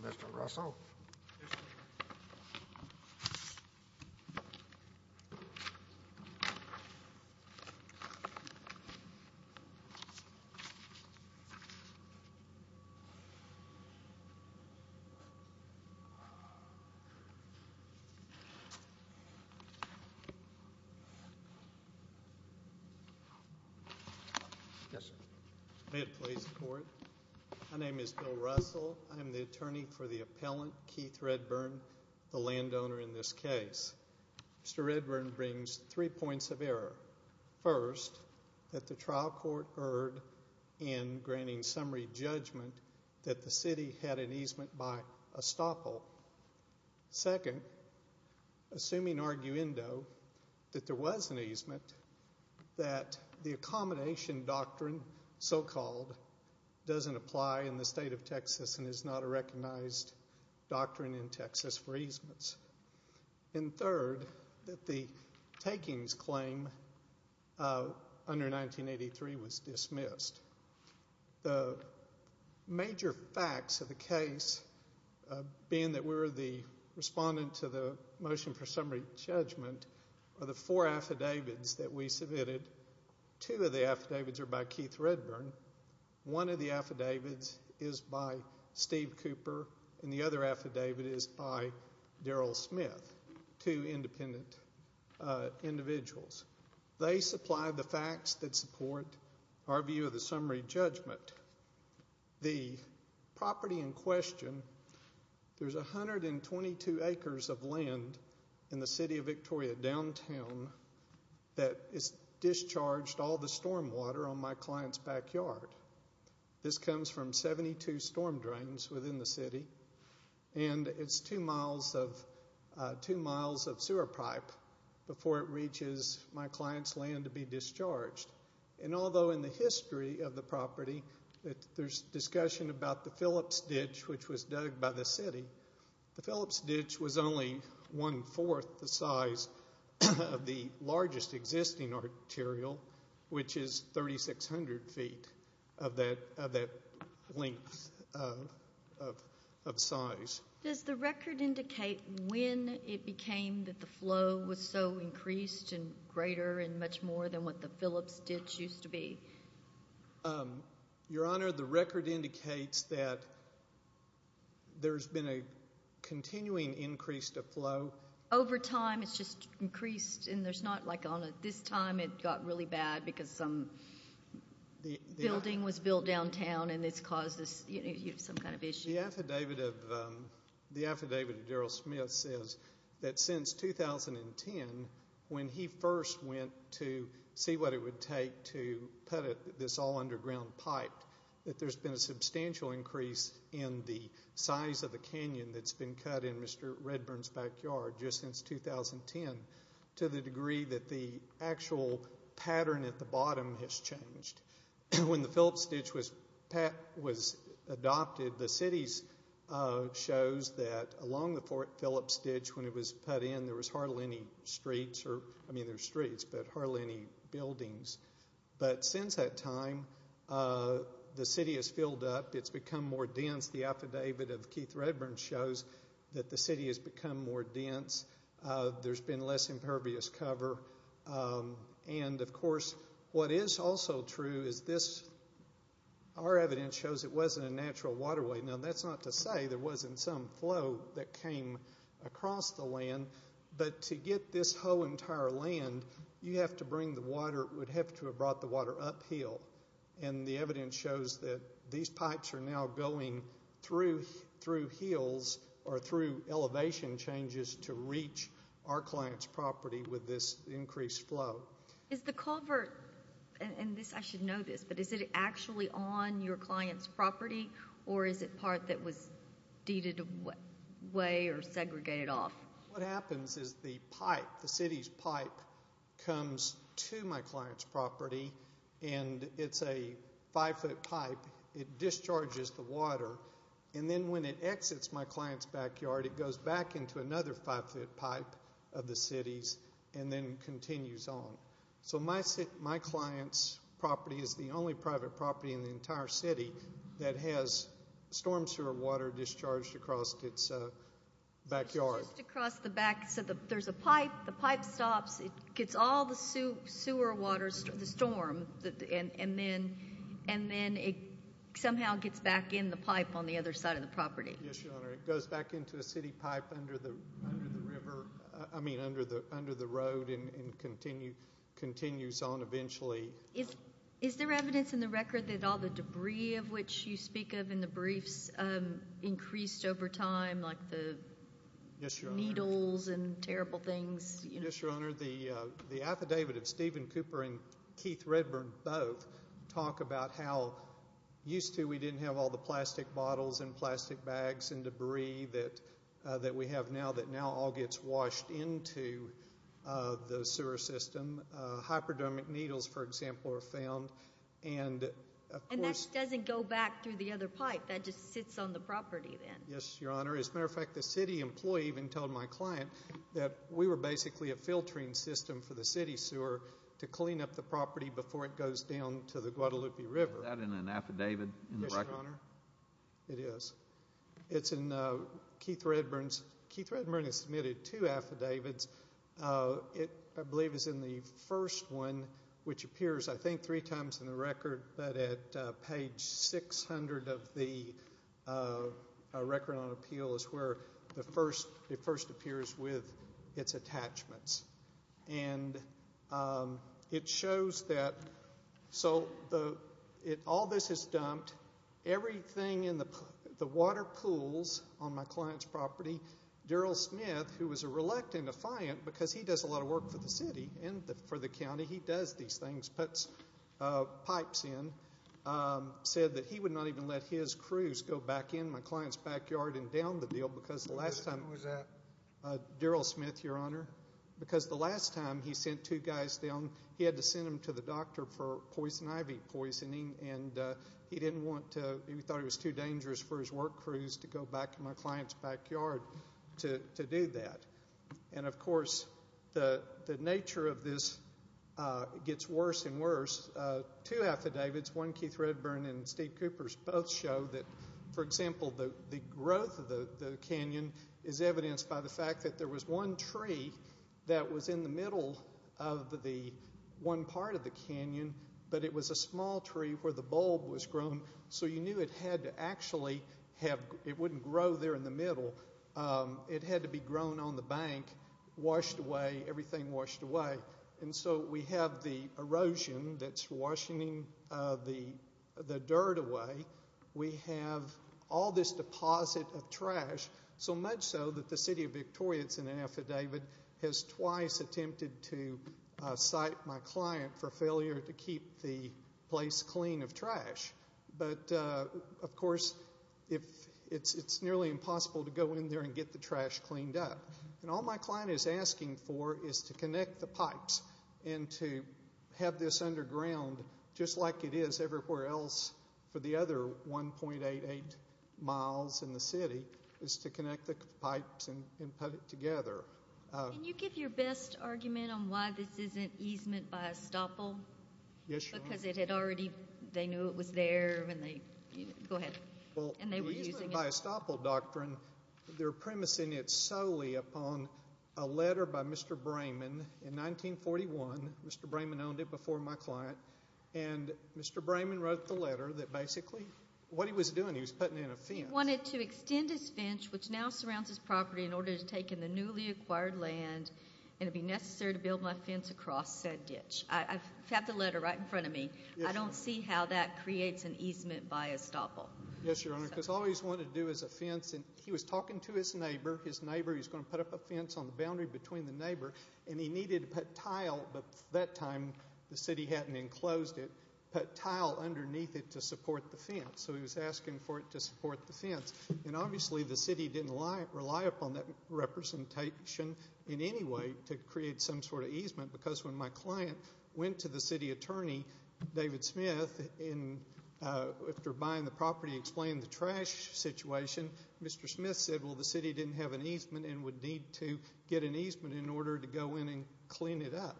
Mr. Russell I am the attorney for the appellant, Keith Redburn, the landowner in this case. Mr. Redburn brings three points of error. First, that the trial court erred in granting summary judgment that the city had an easement by estoppel. Second, assuming arguendo that there was an easement, that the accommodation doctrine so-called doesn't apply in the state of Texas and is not a recognized doctrine in Texas for easements. And third, that the takings claim under 1983 was dismissed. The major facts of the case, being that we're the respondent to the motion for summary judgment, are the four affidavits that we submitted. Two of the affidavits are by Keith Redburn. One of the affidavits is by Steve Cooper, and the other affidavit is by Daryl Smith, two independent individuals. They supply the facts that support our view of the summary judgment. The property in question, there's 122 acres of land in the city of Victoria downtown that has discharged all the storm water on my client's backyard. This comes from 72 storm drains within the city, and it's two miles of sewer pipe before it reaches my client's land to be discharged. And although in the history of the property there's discussion about the Phillips ditch, which was dug by the city, the Phillips ditch was only one-fourth the size of the largest existing arterial, which is 3,600 feet of that length of size. Does the record indicate when it became that the flow was so increased and greater and much more than what the Phillips ditch used to be? Your Honor, the record indicates that there's been a continuing increase of flow. Over time, it's just increased, and there's not, like, on a, this time it got really bad because some building was built downtown, and it's caused this, you know, some kind of issue. The affidavit of Daryl Smith says that since 2010, when he first went to see what it would take to put this all underground pipe, that there's been a substantial increase in the size of the canyon that's been cut in Mr. Redburn's backyard just since 2010 to the degree that the actual pattern at the bottom has changed. When the Phillips ditch was adopted, the city shows that along the Phillips ditch, when it was put in, there was hardly any streets or, I mean, there's streets, but hardly any buildings. But since that time, the city has filled up. It's become more dense. The affidavit of Keith Redburn shows that the city has become more dense. There's been less impervious cover. And, of course, what is also true is this. Our evidence shows it wasn't a natural waterway. Now, that's not to say there wasn't some flow that came across the land, but to get this whole entire land, you have to bring the water, would have to have brought the water uphill. And the evidence shows that these pipes are now going through hills or through elevation changes to reach our client's property with this increased flow. Is the culvert, and I should know this, but is it actually on your client's property, or is it part that was deeded away or segregated off? What happens is the pipe, the city's pipe, comes to my client's property, and it's a five-foot pipe. It discharges the water. And then when it exits my client's backyard, it goes back into another five-foot pipe of the city's and then continues on. So my client's property is the only private property in the entire city that has storm sewer water discharged across its backyard. Just across the back. So there's a pipe. The pipe stops. It gets all the sewer water, the storm, and then it somehow gets back in the pipe on the other side of the property. Yes, Your Honor. It goes back into a city pipe under the river, I mean under the road and continues on eventually. Is there evidence in the record that all the debris of which you speak of in the briefs increased over time, like the needles and terrible things? Yes, Your Honor. The affidavit of Stephen Cooper and Keith Redburn both talk about how used to we didn't have all the plastic bottles and plastic bags and debris that we have now that now all gets washed into the sewer system. Hyperdermic needles, for example, are found. And that doesn't go back through the other pipe. That just sits on the property then. Yes, Your Honor. As a matter of fact, the city employee even told my client that we were basically a filtering system for the city sewer to clean up the property before it goes down to the Guadalupe River. Is that in an affidavit in the record? Yes, Your Honor. It is. It's in Keith Redburn's. Keith Redburn has submitted two affidavits. It, I believe, is in the first one, which appears, I think, three times in the record, but at page 600 of the Record on Appeal is where it first appears with its attachments. And it shows that so all this is dumped, everything in the water pools on my client's property, Daryl Smith, who was a reluctant defiant because he does a lot of work for the city and for the county, he does these things, puts pipes in, said that he would not even let his crews go back in my client's backyard and down the deal because the last time Daryl Smith, Your Honor, because the last time he sent two guys down, he had to send them to the doctor for poison ivy poisoning, and he didn't want to, he thought it was too dangerous for his work crews to go back to my client's backyard to do that. And, of course, the nature of this gets worse and worse. Two affidavits, one Keith Redburn and Steve Cooper's, both show that, for example, the growth of the canyon is evidenced by the fact that there was one tree that was in the middle of the one part of the canyon, but it was a small tree where the bulb was grown. So you knew it had to actually have, it wouldn't grow there in the middle. It had to be grown on the bank, washed away, everything washed away. And so we have the erosion that's washing the dirt away. We have all this deposit of trash, so much so that the city of Victoria that's in the affidavit has twice attempted to cite my client for failure to keep the place clean of trash. But, of course, it's nearly impossible to go in there and get the trash cleaned up. And all my client is asking for is to connect the pipes and to have this underground, just like it is everywhere else for the other 1.88 miles in the city, is to connect the pipes and put it together. Can you give your best argument on why this isn't easement by estoppel? Yes, Your Honor. Because it had already, they knew it was there when they, go ahead. Well, the easement by estoppel doctrine, they're premising it solely upon a letter by Mr. Brayman in 1941. Mr. Brayman owned it before my client. And Mr. Brayman wrote the letter that basically what he was doing, he was putting in a fence. He wanted to extend his fence, which now surrounds his property, in order to take in the newly acquired land and it would be necessary to build my fence across said ditch. I have the letter right in front of me. I don't see how that creates an easement by estoppel. Yes, Your Honor, because all he's wanted to do is a fence. And he was talking to his neighbor. His neighbor, he was going to put up a fence on the boundary between the neighbor. And he needed to put tile, but at that time the city hadn't enclosed it, put tile underneath it to support the fence. So he was asking for it to support the fence. And obviously the city didn't rely upon that representation in any way to create some sort of easement because when my client went to the city attorney, David Smith, after buying the property, explaining the trash situation, Mr. Smith said, well, the city didn't have an easement and would need to get an easement in order to go in and clean it up.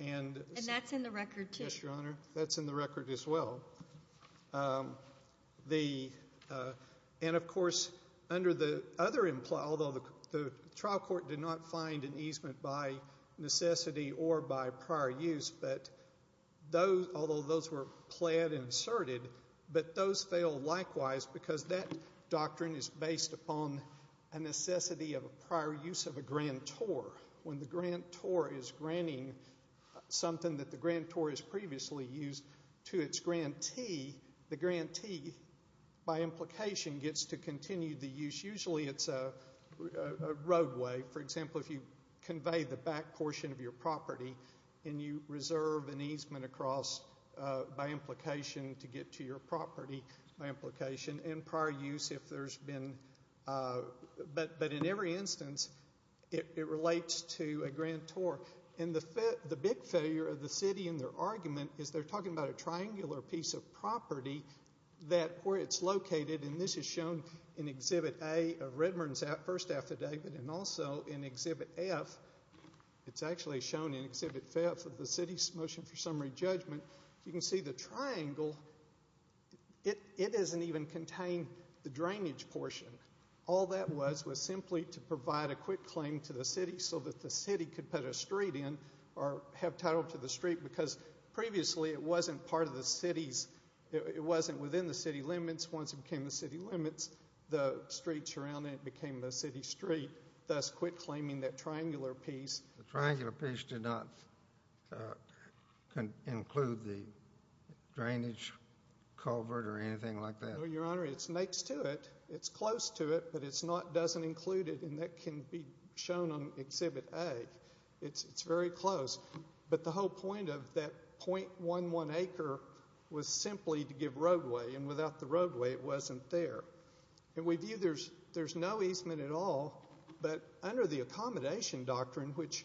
And that's in the record too. Yes, Your Honor. That's in the record as well. And, of course, under the other implies, although the trial court did not find an easement by necessity or by prior use, although those were plaid and inserted, but those fail likewise because that doctrine is based upon a necessity of a prior use of a grantor. When the grantor is granting something that the grantor has previously used to its grantee, the grantee, by implication, gets to continue the use. Usually it's a roadway. So, for example, if you convey the back portion of your property and you reserve an easement across by implication to get to your property by implication and prior use if there's been, but in every instance it relates to a grantor. And the big failure of the city in their argument is they're talking about a triangular piece of property that where it's located, and this is shown in Exhibit A of Redmond's first affidavit and also in Exhibit F, it's actually shown in Exhibit F of the city's motion for summary judgment, you can see the triangle, it doesn't even contain the drainage portion. All that was was simply to provide a quick claim to the city so that the city could put a street in or have title to the street because previously it wasn't part of the city's, it wasn't within the city limits. Once it became the city limits, the streets around it became the city street, thus quit claiming that triangular piece. The triangular piece did not include the drainage culvert or anything like that? No, Your Honor, it's next to it. It's close to it, but it doesn't include it, and that can be shown on Exhibit A. It's very close. But the whole point of that .11 acre was simply to give roadway, and without the roadway it wasn't there. And we view there's no easement at all, but under the accommodation doctrine, which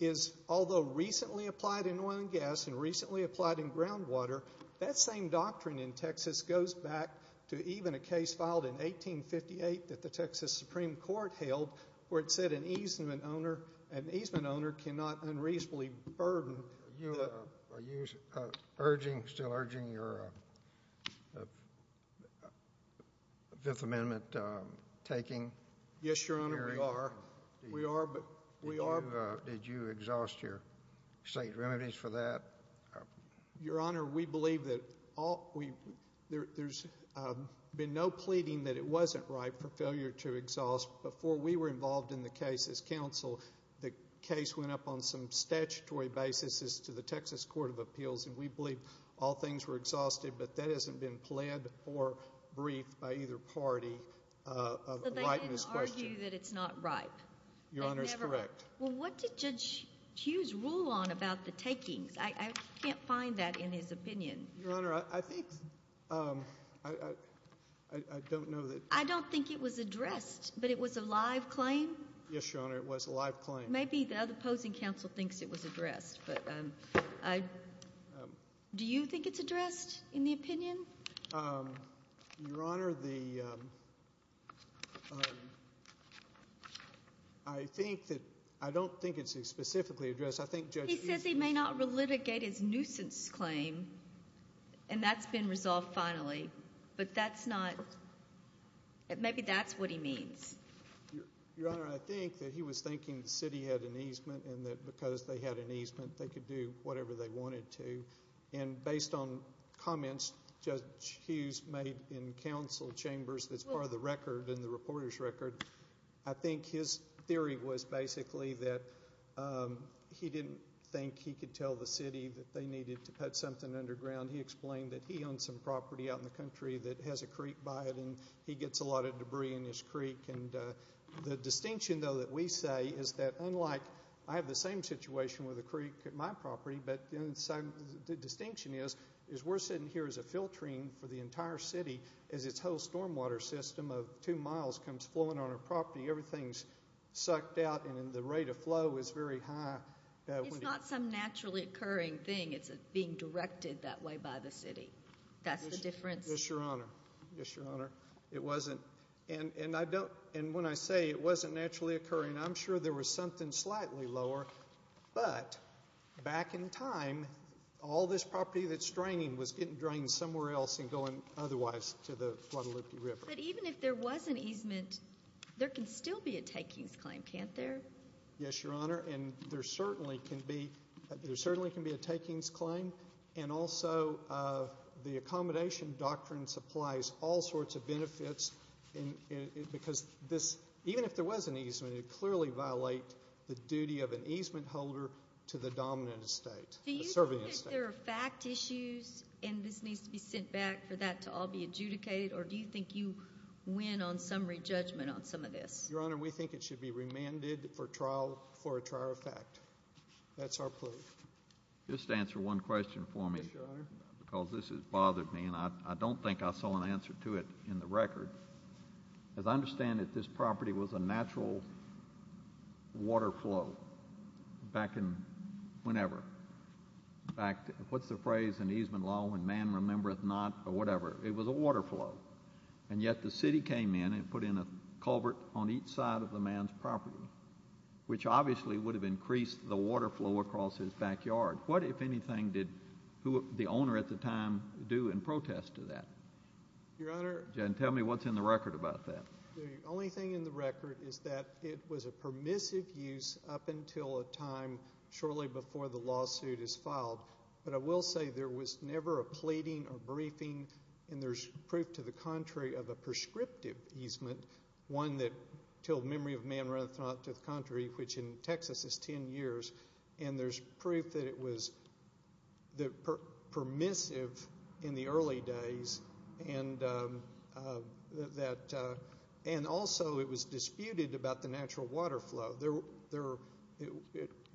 is although recently applied in oil and gas and recently applied in groundwater, that same doctrine in Texas goes back to even a case filed in 1858 that the Texas Supreme Court held where it said an easement owner cannot unreasonably burden. Are you still urging your Fifth Amendment taking? Yes, Your Honor, we are. Did you exhaust your state remedies for that? Your Honor, we believe that there's been no pleading that it wasn't right for failure to exhaust before we were involved in the case as counsel. The case went up on some statutory basis to the Texas Court of Appeals, and we believe all things were exhausted, but that hasn't been pled or briefed by either party. So they didn't argue that it's not right? Your Honor is correct. Well, what did Judge Hughes rule on about the takings? I can't find that in his opinion. Your Honor, I think I don't know that. I don't think it was addressed, but it was a live claim? Yes, Your Honor, it was a live claim. Maybe the opposing counsel thinks it was addressed. Do you think it's addressed in the opinion? Your Honor, I don't think it's specifically addressed. He says he may not relitigate his nuisance claim, and that's been resolved finally, but maybe that's what he means. Your Honor, I think that he was thinking the city had an easement and that because they had an easement they could do whatever they wanted to, and based on comments Judge Hughes made in counsel chambers that's part of the record and the reporter's record, I think his theory was basically that he didn't think he could tell the city that they needed to put something underground. He explained that he owned some property out in the country that has a creek by it, and he gets a lot of debris in his creek. The distinction, though, that we say is that unlike I have the same situation with a creek at my property, but the distinction is we're sitting here as a filtering for the entire city as its whole stormwater system of two miles comes flowing on our property. Everything's sucked out, and the rate of flow is very high. It's not some naturally occurring thing. It's being directed that way by the city. That's the difference. Yes, Your Honor. Yes, Your Honor. It wasn't, and when I say it wasn't naturally occurring, I'm sure there was something slightly lower, but back in time all this property that's draining was getting drained somewhere else and going otherwise to the Guadalupe River. But even if there was an easement, there can still be a takings claim, can't there? Yes, Your Honor. And there certainly can be a takings claim, and also the accommodation doctrine supplies all sorts of benefits because this, even if there was an easement, it would clearly violate the duty of an easement holder to the dominant estate. Do you think there are fact issues, and this needs to be sent back for that to all be adjudicated, or do you think you win on summary judgment on some of this? Your Honor, we think it should be remanded for trial for a trial effect. That's our plea. Just answer one question for me. Yes, Your Honor. Because this has bothered me, and I don't think I saw an answer to it in the record. As I understand it, this property was a natural water flow back in whenever. In fact, what's the phrase in easement law, when man remembereth not, or whatever? It was a water flow. And yet the city came in and put in a culvert on each side of the man's property, which obviously would have increased the water flow across his backyard. What, if anything, did the owner at the time do in protest to that? Your Honor. Tell me what's in the record about that. The only thing in the record is that it was a permissive use up until a time shortly before the lawsuit is filed. But I will say there was never a pleading or briefing, and there's proof to the contrary of a prescriptive easement, one that till memory of man runneth not to the contrary, which in Texas is 10 years. And there's proof that it was permissive in the early days, and also it was disputed about the natural water flow.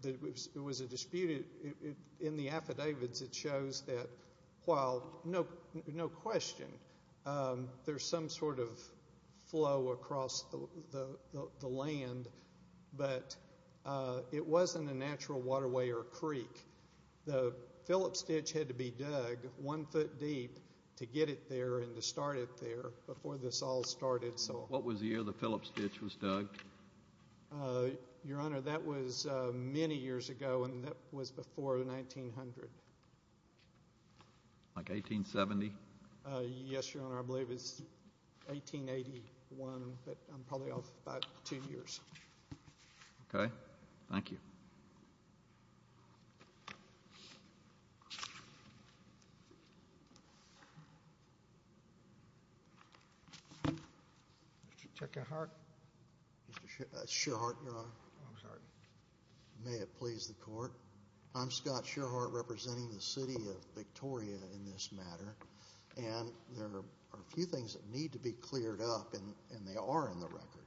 There was a dispute. In the affidavits it shows that while no question there's some sort of flow across the land, but it wasn't a natural waterway or creek. The Phillips ditch had to be dug one foot deep to get it there and to start it there before this all started. What was the year the Phillips ditch was dug? Your Honor, that was many years ago, and that was before 1900. Like 1870? Yes, Your Honor. I believe it's 1881, but I'm probably off by two years. Okay. Thank you. Mr. Shearheart. Mr. Shearheart, Your Honor. I'm sorry. May it please the Court. I'm Scott Shearheart representing the City of Victoria in this matter, and there are a few things that need to be cleared up, and they are in the record.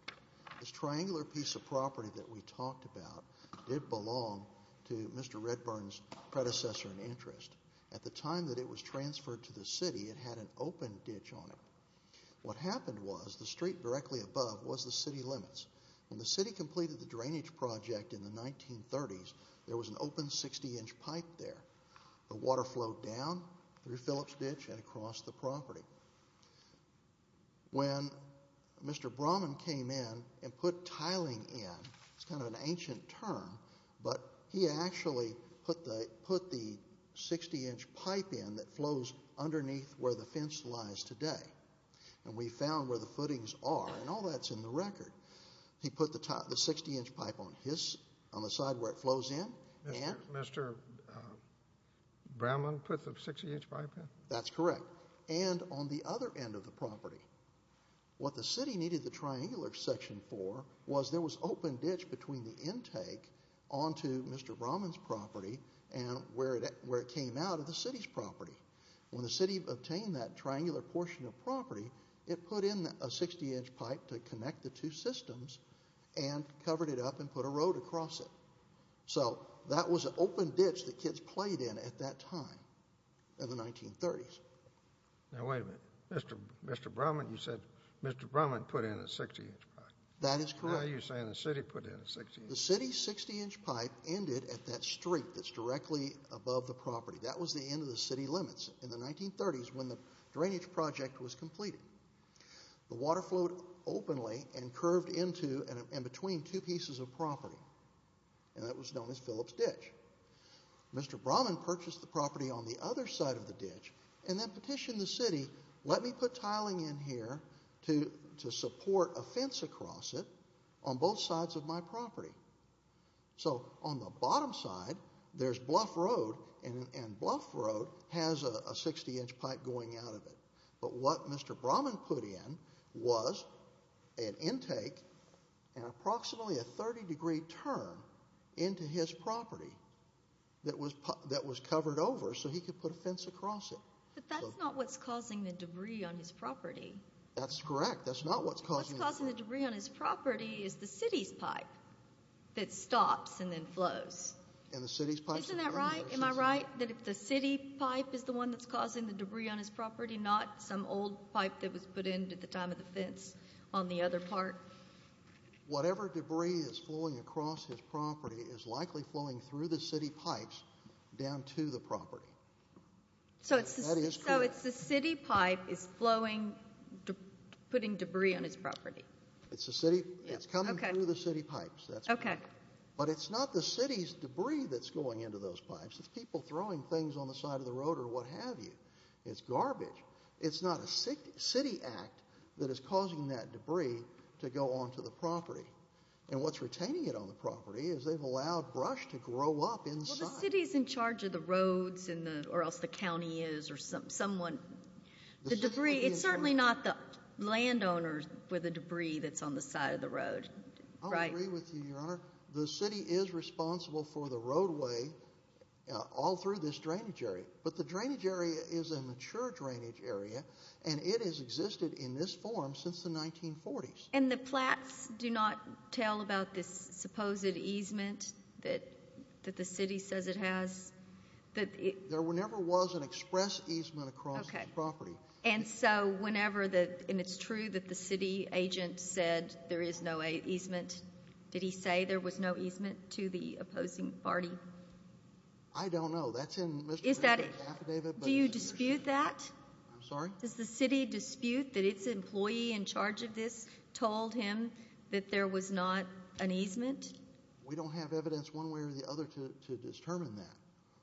This triangular piece of property that we talked about did belong to Mr. Redburn's predecessor in interest. At the time that it was transferred to the city, it had an open ditch on it. What happened was the street directly above was the city limits. When the city completed the drainage project in the 1930s, there was an open 60-inch pipe there. The water flowed down through Phillips ditch and across the property. When Mr. Brahman came in and put tiling in, it's kind of an ancient term, but he actually put the 60-inch pipe in that flows underneath where the fence lies today, and we found where the footings are, and all that's in the record. He put the 60-inch pipe on the side where it flows in. Mr. Brahman put the 60-inch pipe in? That's correct. And on the other end of the property. What the city needed the triangular section for was there was open ditch between the intake onto Mr. Brahman's property and where it came out of the city's property. When the city obtained that triangular portion of property, it put in a 60-inch pipe to connect the two systems and covered it up and put a road across it. So that was an open ditch that kids played in at that time in the 1930s. Now, wait a minute. Mr. Brahman, you said Mr. Brahman put in a 60-inch pipe. That is correct. Now you're saying the city put in a 60-inch pipe. The city's 60-inch pipe ended at that street that's directly above the property. That was the end of the city limits in the 1930s when the drainage project was completed. The water flowed openly and curved into and between two pieces of property. And that was known as Phillips Ditch. Mr. Brahman purchased the property on the other side of the ditch and then petitioned the city, let me put tiling in here to support a fence across it on both sides of my property. So on the bottom side, there's Bluff Road, and Bluff Road has a 60-inch pipe going out of it. But what Mr. Brahman put in was an intake and approximately a 30-degree turn into his property that was covered over so he could put a fence across it. But that's not what's causing the debris on his property. That's correct. That's not what's causing the debris. What's causing the debris on his property is the city's pipe that stops and then flows. Isn't that right? Am I right that the city pipe is the one that's causing the debris on his property, not some old pipe that was put in at the time of the fence on the other part? Whatever debris is flowing across his property is likely flowing through the city pipes down to the property. So it's the city pipe that's putting debris on his property. It's coming through the city pipes. Okay. But it's not the city's debris that's going into those pipes. It's people throwing things on the side of the road or what have you. It's garbage. It's not a city act that is causing that debris to go onto the property. And what's retaining it on the property is they've allowed brush to grow up inside. Well, the city is in charge of the roads or else the county is or someone. The debris, it's certainly not the landowners with the debris that's on the side of the road, right? I agree with you, Your Honor. The city is responsible for the roadway all through this drainage area. But the drainage area is a mature drainage area, and it has existed in this form since the 1940s. And the plats do not tell about this supposed easement that the city says it has? There never was an express easement across the property. And so whenever the – and it's true that the city agent said there is no easement. Did he say there was no easement to the opposing party? I don't know. That's in Mr. Bannon's affidavit. Do you dispute that? I'm sorry? Does the city dispute that its employee in charge of this told him that there was not an easement? We don't have evidence one way or the other to determine that.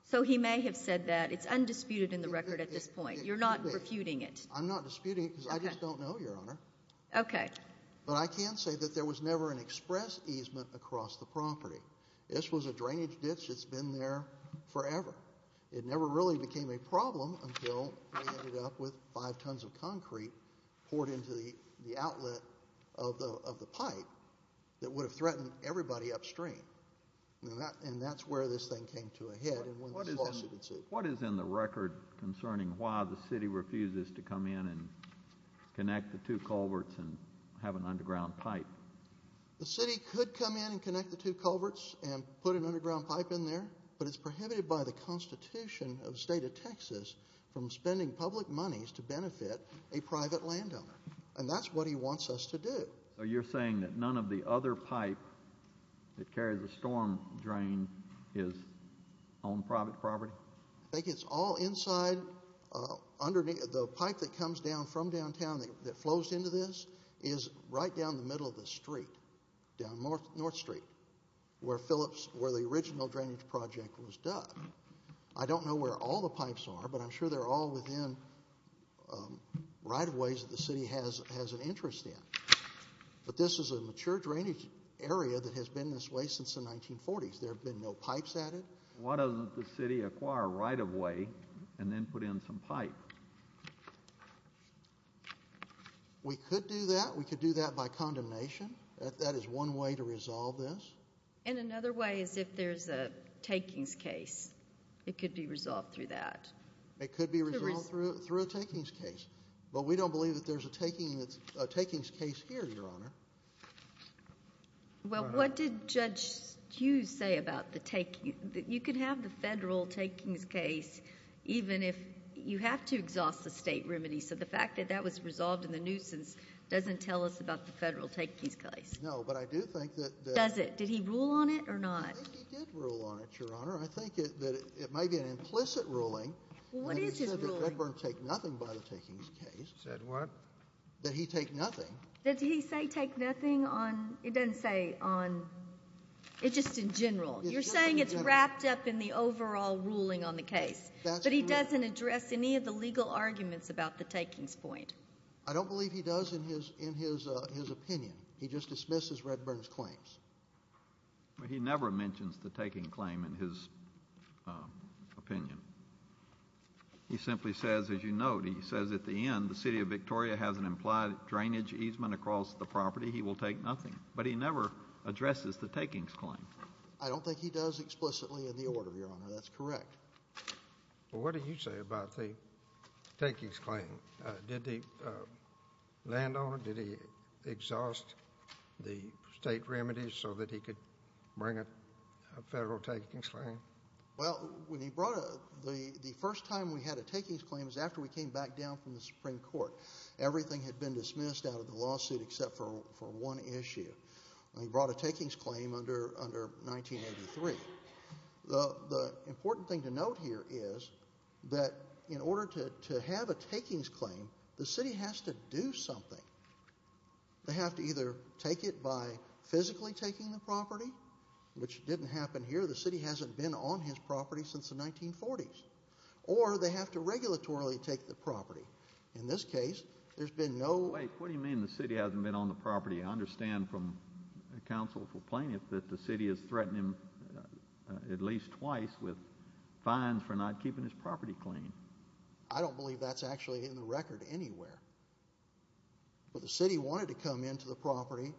So he may have said that. It's undisputed in the record at this point. You're not refuting it? I'm not disputing it because I just don't know, Your Honor. Okay. But I can say that there was never an express easement across the property. This was a drainage ditch that's been there forever. It never really became a problem until they ended up with five tons of concrete poured into the outlet of the pipe that would have threatened everybody upstream. And that's where this thing came to a head. What is in the record concerning why the city refuses to come in and connect the two culverts and have an underground pipe? The city could come in and connect the two culverts and put an underground pipe in there, but it's prohibited by the Constitution of the State of Texas from spending public monies to benefit a private landowner. And that's what he wants us to do. So you're saying that none of the other pipe that carries the storm drain is on private property? I think it's all inside underneath. The pipe that comes down from downtown that flows into this is right down the middle of the street, down North Street, where the original drainage project was done. I don't know where all the pipes are, but I'm sure they're all within right-of-ways that the city has an interest in. But this is a mature drainage area that has been this way since the 1940s. There have been no pipes added. Why doesn't the city acquire a right-of-way and then put in some pipe? We could do that. We could do that by condemnation. That is one way to resolve this. Well, and another way is if there's a takings case. It could be resolved through that. It could be resolved through a takings case. But we don't believe that there's a takings case here, Your Honor. Well, what did Judge Hughes say about the takings? You could have the federal takings case even if you have to exhaust the state remedy. So the fact that that was resolved in the nuisance doesn't tell us about the federal takings case. No, but I do think that the – Well, does it? Did he rule on it or not? I think he did rule on it, Your Honor. I think that it may be an implicit ruling. Well, what is his ruling? He said that Redburn take nothing by the takings case. Said what? That he take nothing. Did he say take nothing on – it doesn't say on – it's just in general. You're saying it's wrapped up in the overall ruling on the case. That's correct. But he doesn't address any of the legal arguments about the takings point. I don't believe he does in his opinion. He just dismisses Redburn's claims. Well, he never mentions the taking claim in his opinion. He simply says, as you note, he says at the end, the city of Victoria has an implied drainage easement across the property. He will take nothing. But he never addresses the takings claim. I don't think he does explicitly in the order, Your Honor. That's correct. Well, what do you say about the takings claim? Did the landowner, did he exhaust the state remedies so that he could bring a federal takings claim? Well, when he brought – the first time we had a takings claim was after we came back down from the Supreme Court. Everything had been dismissed out of the lawsuit except for one issue. He brought a takings claim under 1983. The important thing to note here is that in order to have a takings claim, the city has to do something. They have to either take it by physically taking the property, which didn't happen here. The city hasn't been on his property since the 1940s. Or they have to regulatorily take the property. In this case, there's been no – Wait. What do you mean the city hasn't been on the property? I understand from counsel for plaintiff that the city has threatened him at least twice with fines for not keeping his property clean. I don't believe that's actually in the record anywhere. But the city wanted to come into the property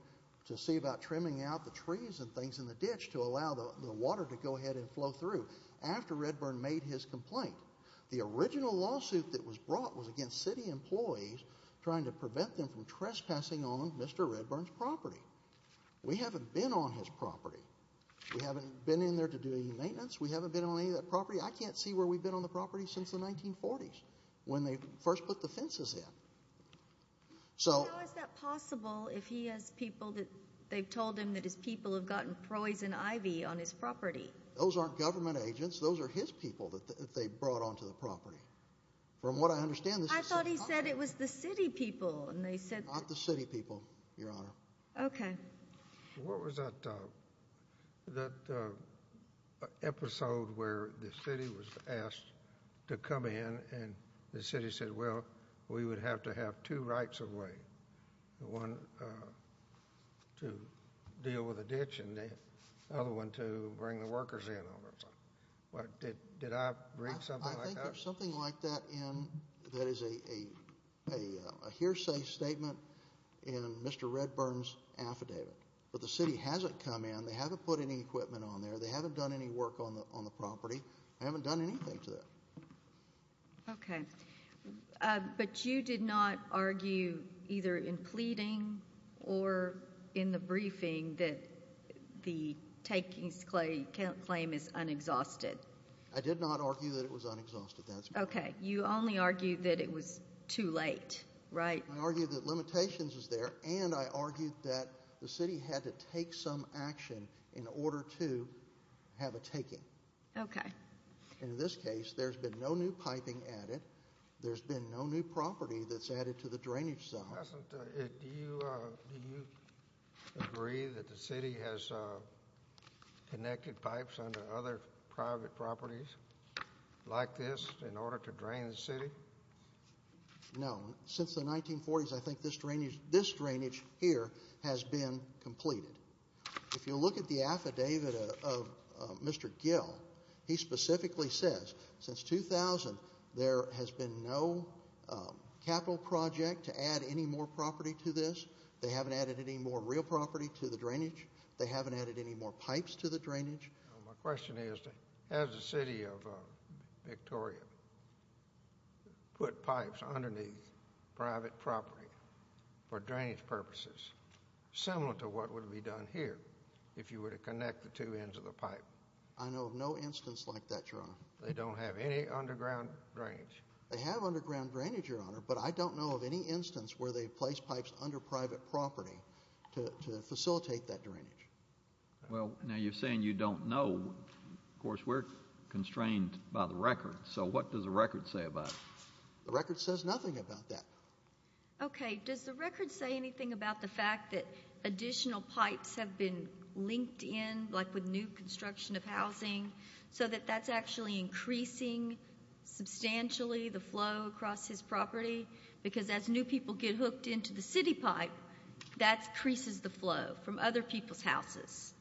to see about trimming out the trees and things in the ditch to allow the water to go ahead and flow through after Redburn made his complaint. The original lawsuit that was brought was against city employees trying to prevent them from trespassing on Mr. Redburn's property. We haven't been on his property. We haven't been in there to do any maintenance. We haven't been on any of that property. I can't see where we've been on the property since the 1940s, when they first put the fences in. So – How is that possible if he has people that – they've told him that his people have gotten poison ivy on his property? Those aren't government agents. Those are his people that they brought onto the property. From what I understand, this is some company. I thought he said it was the city people. Not the city people, Your Honor. Okay. What was that episode where the city was asked to come in and the city said, well, we would have to have two rights of way, one to deal with a ditch and the other one to bring the workers in. Did I read something like that? I think there's something like that in – that is a hearsay statement in Mr. Redburn's affidavit. But the city hasn't come in. They haven't put any equipment on there. They haven't done any work on the property. They haven't done anything to that. Okay. But you did not argue either in pleading or in the briefing that the takings claim is unexhausted? I did not argue that it was unexhausted. Okay. You only argued that it was too late, right? I argued that limitations is there, and I argued that the city had to take some action in order to have a taking. Okay. In this case, there's been no new piping added. There's been no new property that's added to the drainage zone. Congressman, do you agree that the city has connected pipes under other private properties like this in order to drain the city? No. Since the 1940s, I think this drainage here has been completed. If you look at the affidavit of Mr. Gill, he specifically says since 2000, there has been no capital project to add any more property to this. They haven't added any more real property to the drainage. They haven't added any more pipes to the drainage. My question is, has the city of Victoria put pipes underneath private property for drainage purposes, similar to what would be done here if you were to connect the two ends of the pipe? I know of no instance like that, Your Honor. They don't have any underground drainage. They have underground drainage, Your Honor, but I don't know of any instance where they place pipes under private property to facilitate that drainage. Well, now you're saying you don't know. Of course, we're constrained by the record. So what does the record say about it? The record says nothing about that. Okay. Does the record say anything about the fact that additional pipes have been linked in, like with new construction of housing, so that that's actually increasing substantially the flow across his property? Because as new people get hooked into the city pipe, that increases the flow from other people's houses.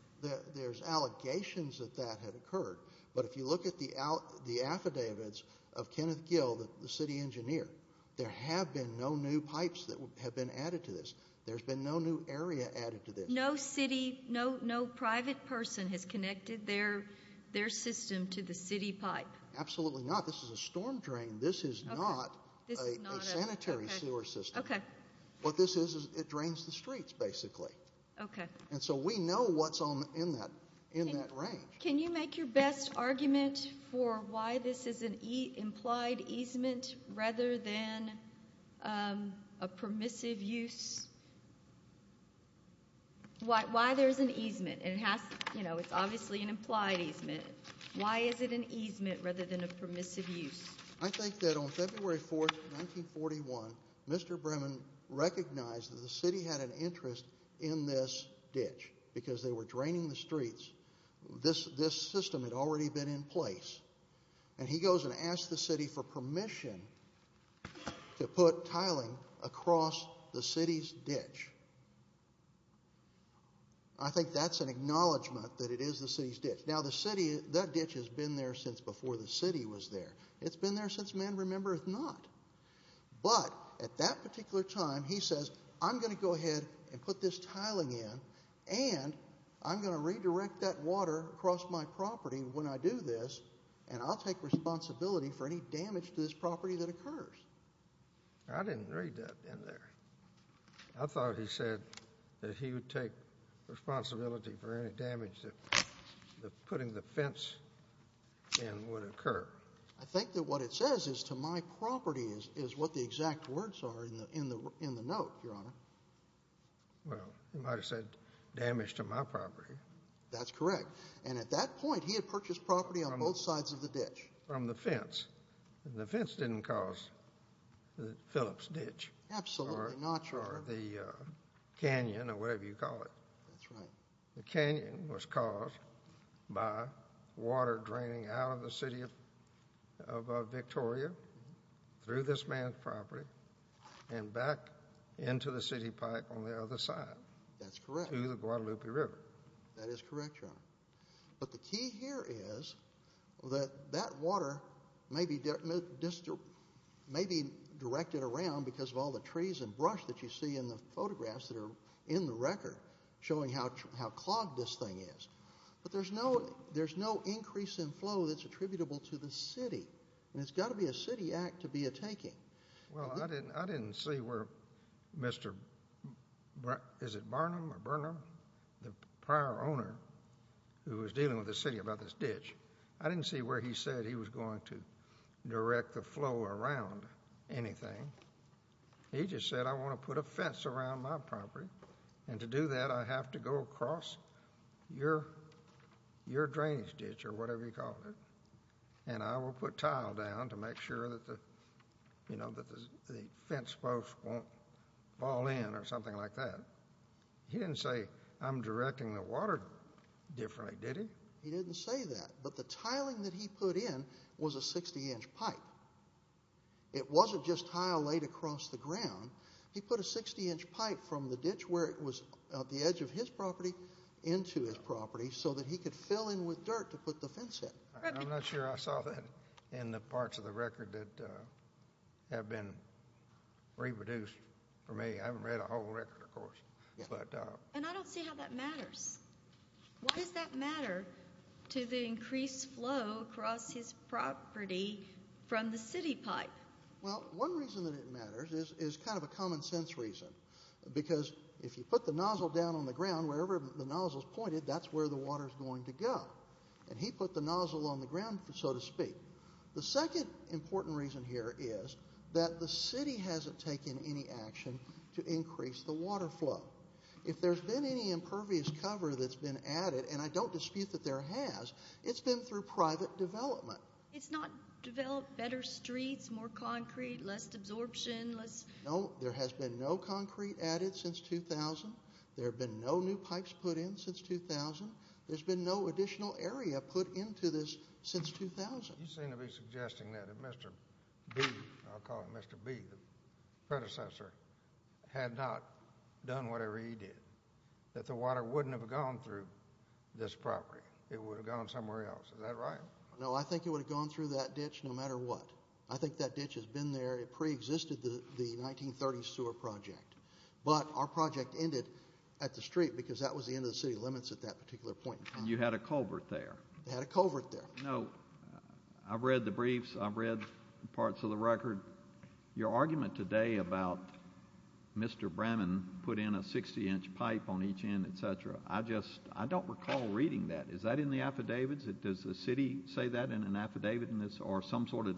There's allegations that that had occurred, but if you look at the affidavits of Kenneth Gill, the city engineer, there have been no new pipes that have been added to this. There's been no new area added to this. So no city, no private person has connected their system to the city pipe? Absolutely not. This is a storm drain. This is not a sanitary sewer system. Okay. What this is, it drains the streets, basically. Okay. And so we know what's in that range. Can you make your best argument for why this is an implied easement rather than a permissive use? Why there's an easement? It's obviously an implied easement. Why is it an easement rather than a permissive use? I think that on February 4th, 1941, Mr. Bremen recognized that the city had an interest in this ditch because they were draining the streets. This system had already been in place. And he goes and asks the city for permission to put tiling across the city's ditch. I think that's an acknowledgment that it is the city's ditch. Now, that ditch has been there since before the city was there. It's been there since man remembereth not. But at that particular time, he says, I'm going to go ahead and put this tiling in and I'm going to redirect that water across my property when I do this, and I'll take responsibility for any damage to this property that occurs. I didn't read that in there. I thought he said that he would take responsibility for any damage that putting the fence in would occur. I think that what it says is to my property is what the exact words are in the note, Your Honor. Well, he might have said damage to my property. That's correct. And at that point, he had purchased property on both sides of the ditch. From the fence. And the fence didn't cause the Phillips ditch. Absolutely not, Your Honor. Or the canyon or whatever you call it. That's right. The canyon was caused by water draining out of the city of Victoria through this man's property and back into the city park on the other side. That's correct. To the Guadalupe River. That is correct, Your Honor. But the key here is that that water may be directed around because of all the trees and brush that you see in the photographs that are in the record showing how clogged this thing is. But there's no increase in flow that's attributable to the city. And it's got to be a city act to be a taking. Well, I didn't see where Mr. Barnum, the prior owner, who was dealing with the city about this ditch, I didn't see where he said he was going to direct the flow around anything. He just said, I want to put a fence around my property. And to do that, I have to go across your drainage ditch or whatever you call it, and I will put tile down to make sure that the fence post won't fall in or something like that. He didn't say, I'm directing the water differently, did he? He didn't say that. But the tiling that he put in was a 60-inch pipe. It wasn't just tile laid across the ground. He put a 60-inch pipe from the ditch where it was at the edge of his property into his property so that he could fill in with dirt to put the fence in. I'm not sure I saw that in the parts of the record that have been reproduced for me. I haven't read a whole record, of course. And I don't see how that matters. Why does that matter to the increased flow across his property from the city pipe? Well, one reason that it matters is kind of a common-sense reason, because if you put the nozzle down on the ground, wherever the nozzle is pointed, that's where the water is going to go. And he put the nozzle on the ground, so to speak. The second important reason here is that the city hasn't taken any action to increase the water flow. If there's been any impervious cover that's been added, and I don't dispute that there has, it's been through private development. It's not developed better streets, more concrete, less absorption? No, there has been no concrete added since 2000. There have been no new pipes put in since 2000. There's been no additional area put into this since 2000. You seem to be suggesting that if Mr. B, I'll call him Mr. B, the predecessor, had not done whatever he did, that the water wouldn't have gone through this property. It would have gone somewhere else. Is that right? No, I think it would have gone through that ditch no matter what. I think that ditch has been there. It preexisted the 1930 sewer project. But our project ended at the street because that was the end of the city limits at that particular point in time. And you had a culvert there. I had a culvert there. No, I've read the briefs. I've read parts of the record. Your argument today about Mr. Bramman put in a 60-inch pipe on each end, et cetera, I just don't recall reading that. Is that in the affidavits? Does the city say that in an affidavit or some sort of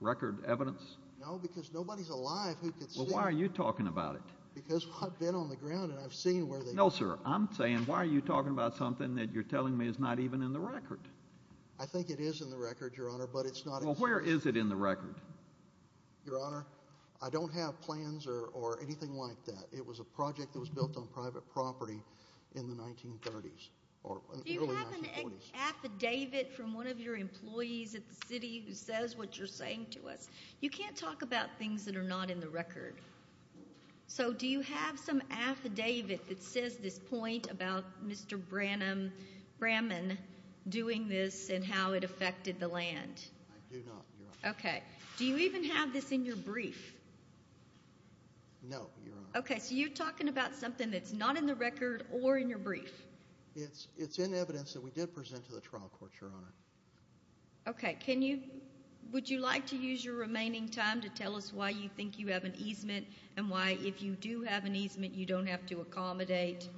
record evidence? No, because nobody's alive who could see it. Well, why are you talking about it? Because I've been on the ground and I've seen where they are. No, sir, I'm saying why are you talking about something that you're telling me is not even in the record? I think it is in the record, Your Honor, but it's not in the record. Well, where is it in the record? Your Honor, I don't have plans or anything like that. It was a project that was built on private property in the 1930s or early 1940s. Do you have an affidavit from one of your employees at the city who says what you're saying to us? You can't talk about things that are not in the record. So do you have some affidavit that says this point about Mr. Bramman doing this and how it affected the land? I do not, Your Honor. Okay. Do you even have this in your brief? No, Your Honor. Okay, so you're talking about something that's not in the record or in your brief. It's in evidence that we did present to the trial court, Your Honor. Okay. Would you like to use your remaining time to tell us why you think you have an easement and why, if you do have an easement, you don't have to accommodate?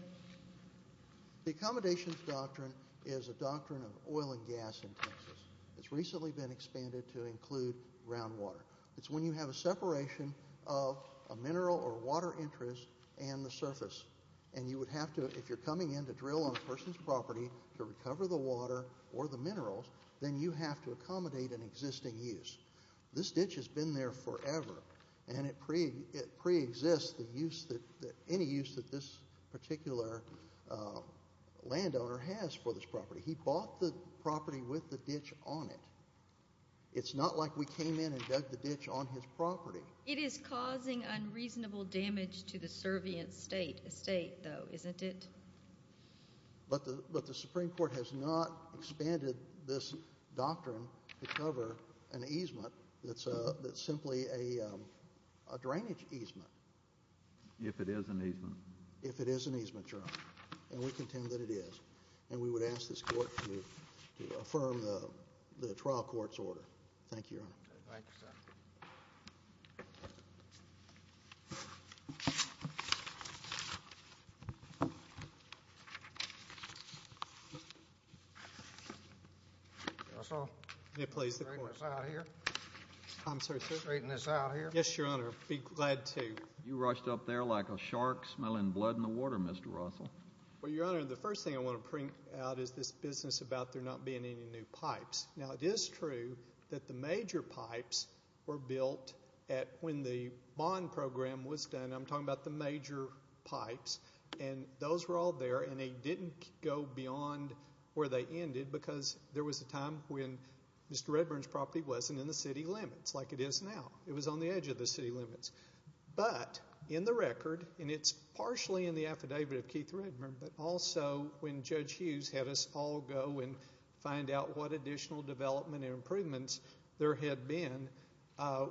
The accommodations doctrine is a doctrine of oil and gas in Texas. It's recently been expanded to include groundwater. It's when you have a separation of a mineral or water interest and the surface, and you would have to, if you're coming in to drill on a person's property to recover the water or the minerals, then you have to accommodate an existing use. This ditch has been there forever, and it preexists any use that this particular landowner has for this property. He bought the property with the ditch on it. It's not like we came in and dug the ditch on his property. It is causing unreasonable damage to the servient state, though, isn't it? But the Supreme Court has not expanded this doctrine to cover an easement that's simply a drainage easement. If it is an easement. If it is an easement, Your Honor, and we contend that it is. And we would ask this Court to affirm the trial court's order. Thank you, Your Honor. Thank you, sir. Russell? Yes, please. Can you straighten this out here? I'm sorry, sir? Can you straighten this out here? Yes, Your Honor. I'd be glad to. You rushed up there like a shark smelling blood in the water, Mr. Russell. Well, Your Honor, the first thing I want to bring out is this business about there not being any new pipes. Now, it is true that the major pipes were built when the bond program was done. I'm talking about the major pipes. And those were all there, and they didn't go beyond where they ended because there was a time when Mr. Redburn's property wasn't in the city limits like it is now. It was on the edge of the city limits. But in the record, and it's partially in the affidavit of Keith Redburn, but also when Judge Hughes had us all go and find out what additional development and improvements there had been,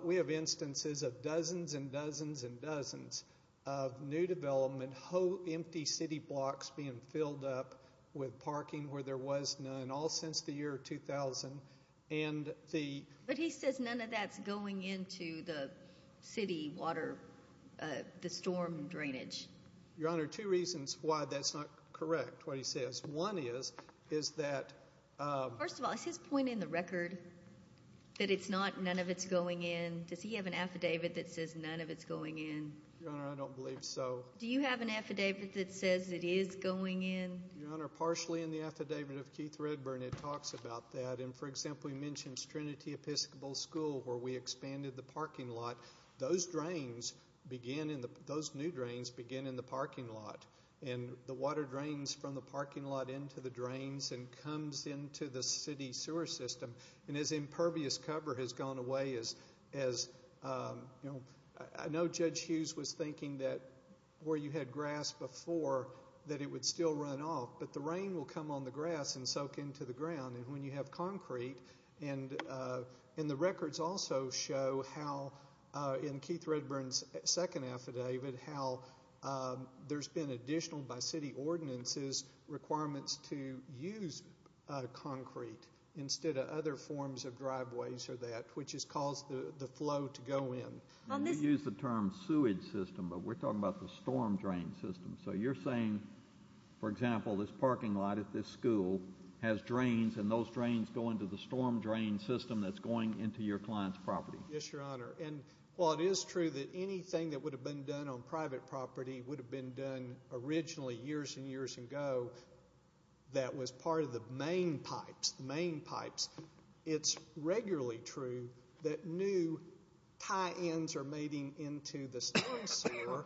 we have instances of dozens and dozens and dozens of new development, whole empty city blocks being filled up with parking where there was none all since the year 2000. But he says none of that's going into the city water, the storm drainage. Your Honor, two reasons why that's not correct, what he says. One is, is that— First of all, is his point in the record that it's not, none of it's going in? Does he have an affidavit that says none of it's going in? Your Honor, I don't believe so. Do you have an affidavit that says it is going in? Your Honor, partially in the affidavit of Keith Redburn, it talks about that. And, for example, he mentions Trinity Episcopal School where we expanded the parking lot. Those drains begin in the—those new drains begin in the parking lot. And the water drains from the parking lot into the drains and comes into the city sewer system. And as impervious cover has gone away, as, you know, I know Judge Hughes was thinking that where you had grass before, that it would still run off, but the rain will come on the grass and soak into the ground. And when you have concrete, and the records also show how, in Keith Redburn's second affidavit, how there's been additional by city ordinances requirements to use concrete instead of other forms of driveways or that, which has caused the flow to go in. You use the term sewage system, but we're talking about the storm drain system. So you're saying, for example, this parking lot at this school has drains, and those drains go into the storm drain system that's going into your client's property. Yes, Your Honor. And while it is true that anything that would have been done on private property would have been done originally years and years ago that was part of the main pipes, the main pipes, it's regularly true that new tie-ins are mating into the storm sewer.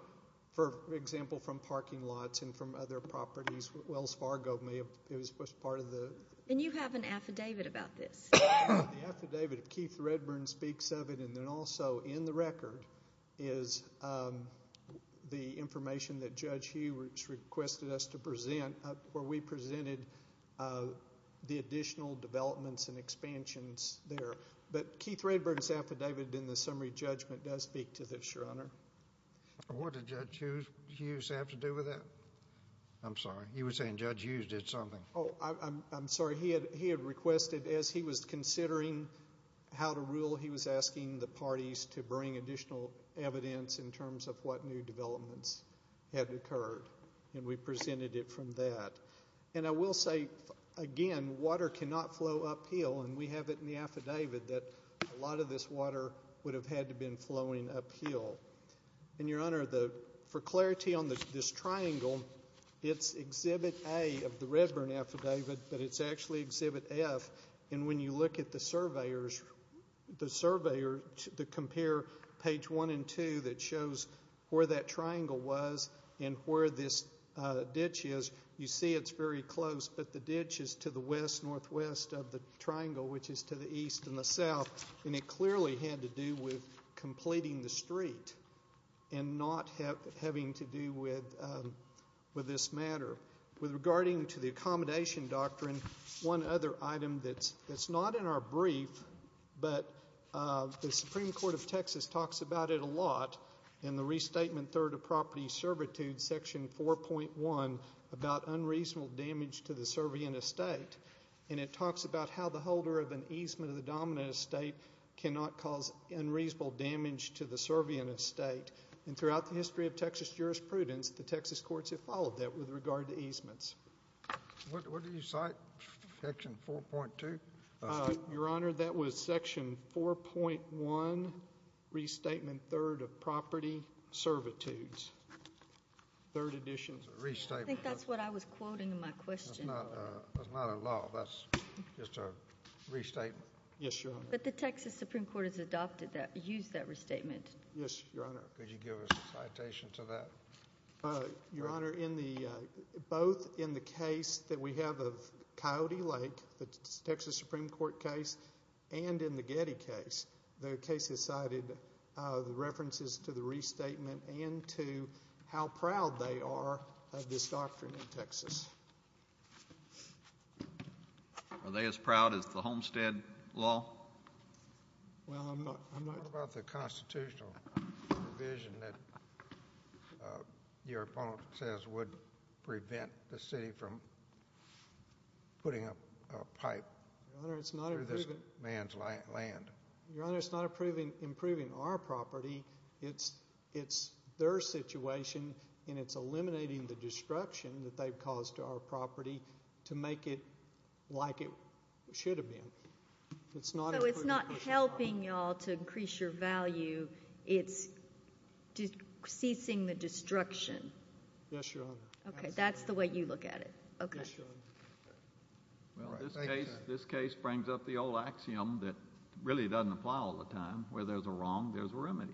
For example, from parking lots and from other properties. Wells Fargo was part of the. And you have an affidavit about this. The affidavit, if Keith Redburn speaks of it, and then also in the record, is the information that Judge Hughes requested us to present where we presented the additional developments and expansions there. But Keith Redburn's affidavit in the summary judgment does speak to this, Your Honor. What did Judge Hughes have to do with that? I'm sorry. You were saying Judge Hughes did something. Oh, I'm sorry. He had requested, as he was considering how to rule, he was asking the parties to bring additional evidence in terms of what new developments had occurred, and we presented it from that. And I will say, again, water cannot flow uphill, and we have it in the affidavit that a lot of this water would have had to have been flowing uphill. And, Your Honor, for clarity on this triangle, it's Exhibit A of the Redburn affidavit, but it's actually Exhibit F, and when you look at the surveyors, the compare page one and two that shows where that triangle was and where this ditch is, you see it's very close, but the ditch is to the west-northwest of the triangle, which is to the east and the south, and it clearly had to do with completing the street and not having to do with this matter. With regarding to the Accommodation Doctrine, one other item that's not in our brief, but the Supreme Court of Texas talks about it a lot in the Restatement Third of Property Servitude, Section 4.1, about unreasonable damage to the servient estate, and it talks about how the holder of an easement of the dominant estate cannot cause unreasonable damage to the servient estate. And throughout the history of Texas jurisprudence, the Texas courts have followed that with regard to easements. What did you cite, Section 4.2? Your Honor, that was Section 4.1, Restatement Third of Property Servitudes, Third Edition. It's a restatement. I think that's what I was quoting in my question. It's not a law. That's just a restatement. Yes, Your Honor. But the Texas Supreme Court has adopted that, used that restatement. Yes, Your Honor. Could you give us a citation to that? Your Honor, both in the case that we have of Coyote Lake, the Texas Supreme Court case, and in the Getty case, the case has cited the references to the restatement and to how proud they are of this doctrine in Texas. Are they as proud as the Homestead Law? Well, I'm not. What about the constitutional provision that your opponent says would prevent the city from putting up a pipe through this man's land? Your Honor, it's not improving our property. It's their situation, and it's eliminating the destruction that they've caused to our property to make it like it should have been. So it's not helping you all to increase your value. It's ceasing the destruction. Yes, Your Honor. Okay, that's the way you look at it. Yes, Your Honor. Well, this case brings up the old axiom that really doesn't apply all the time. Where there's a wrong, there's a remedy. Thank you, Your Honor.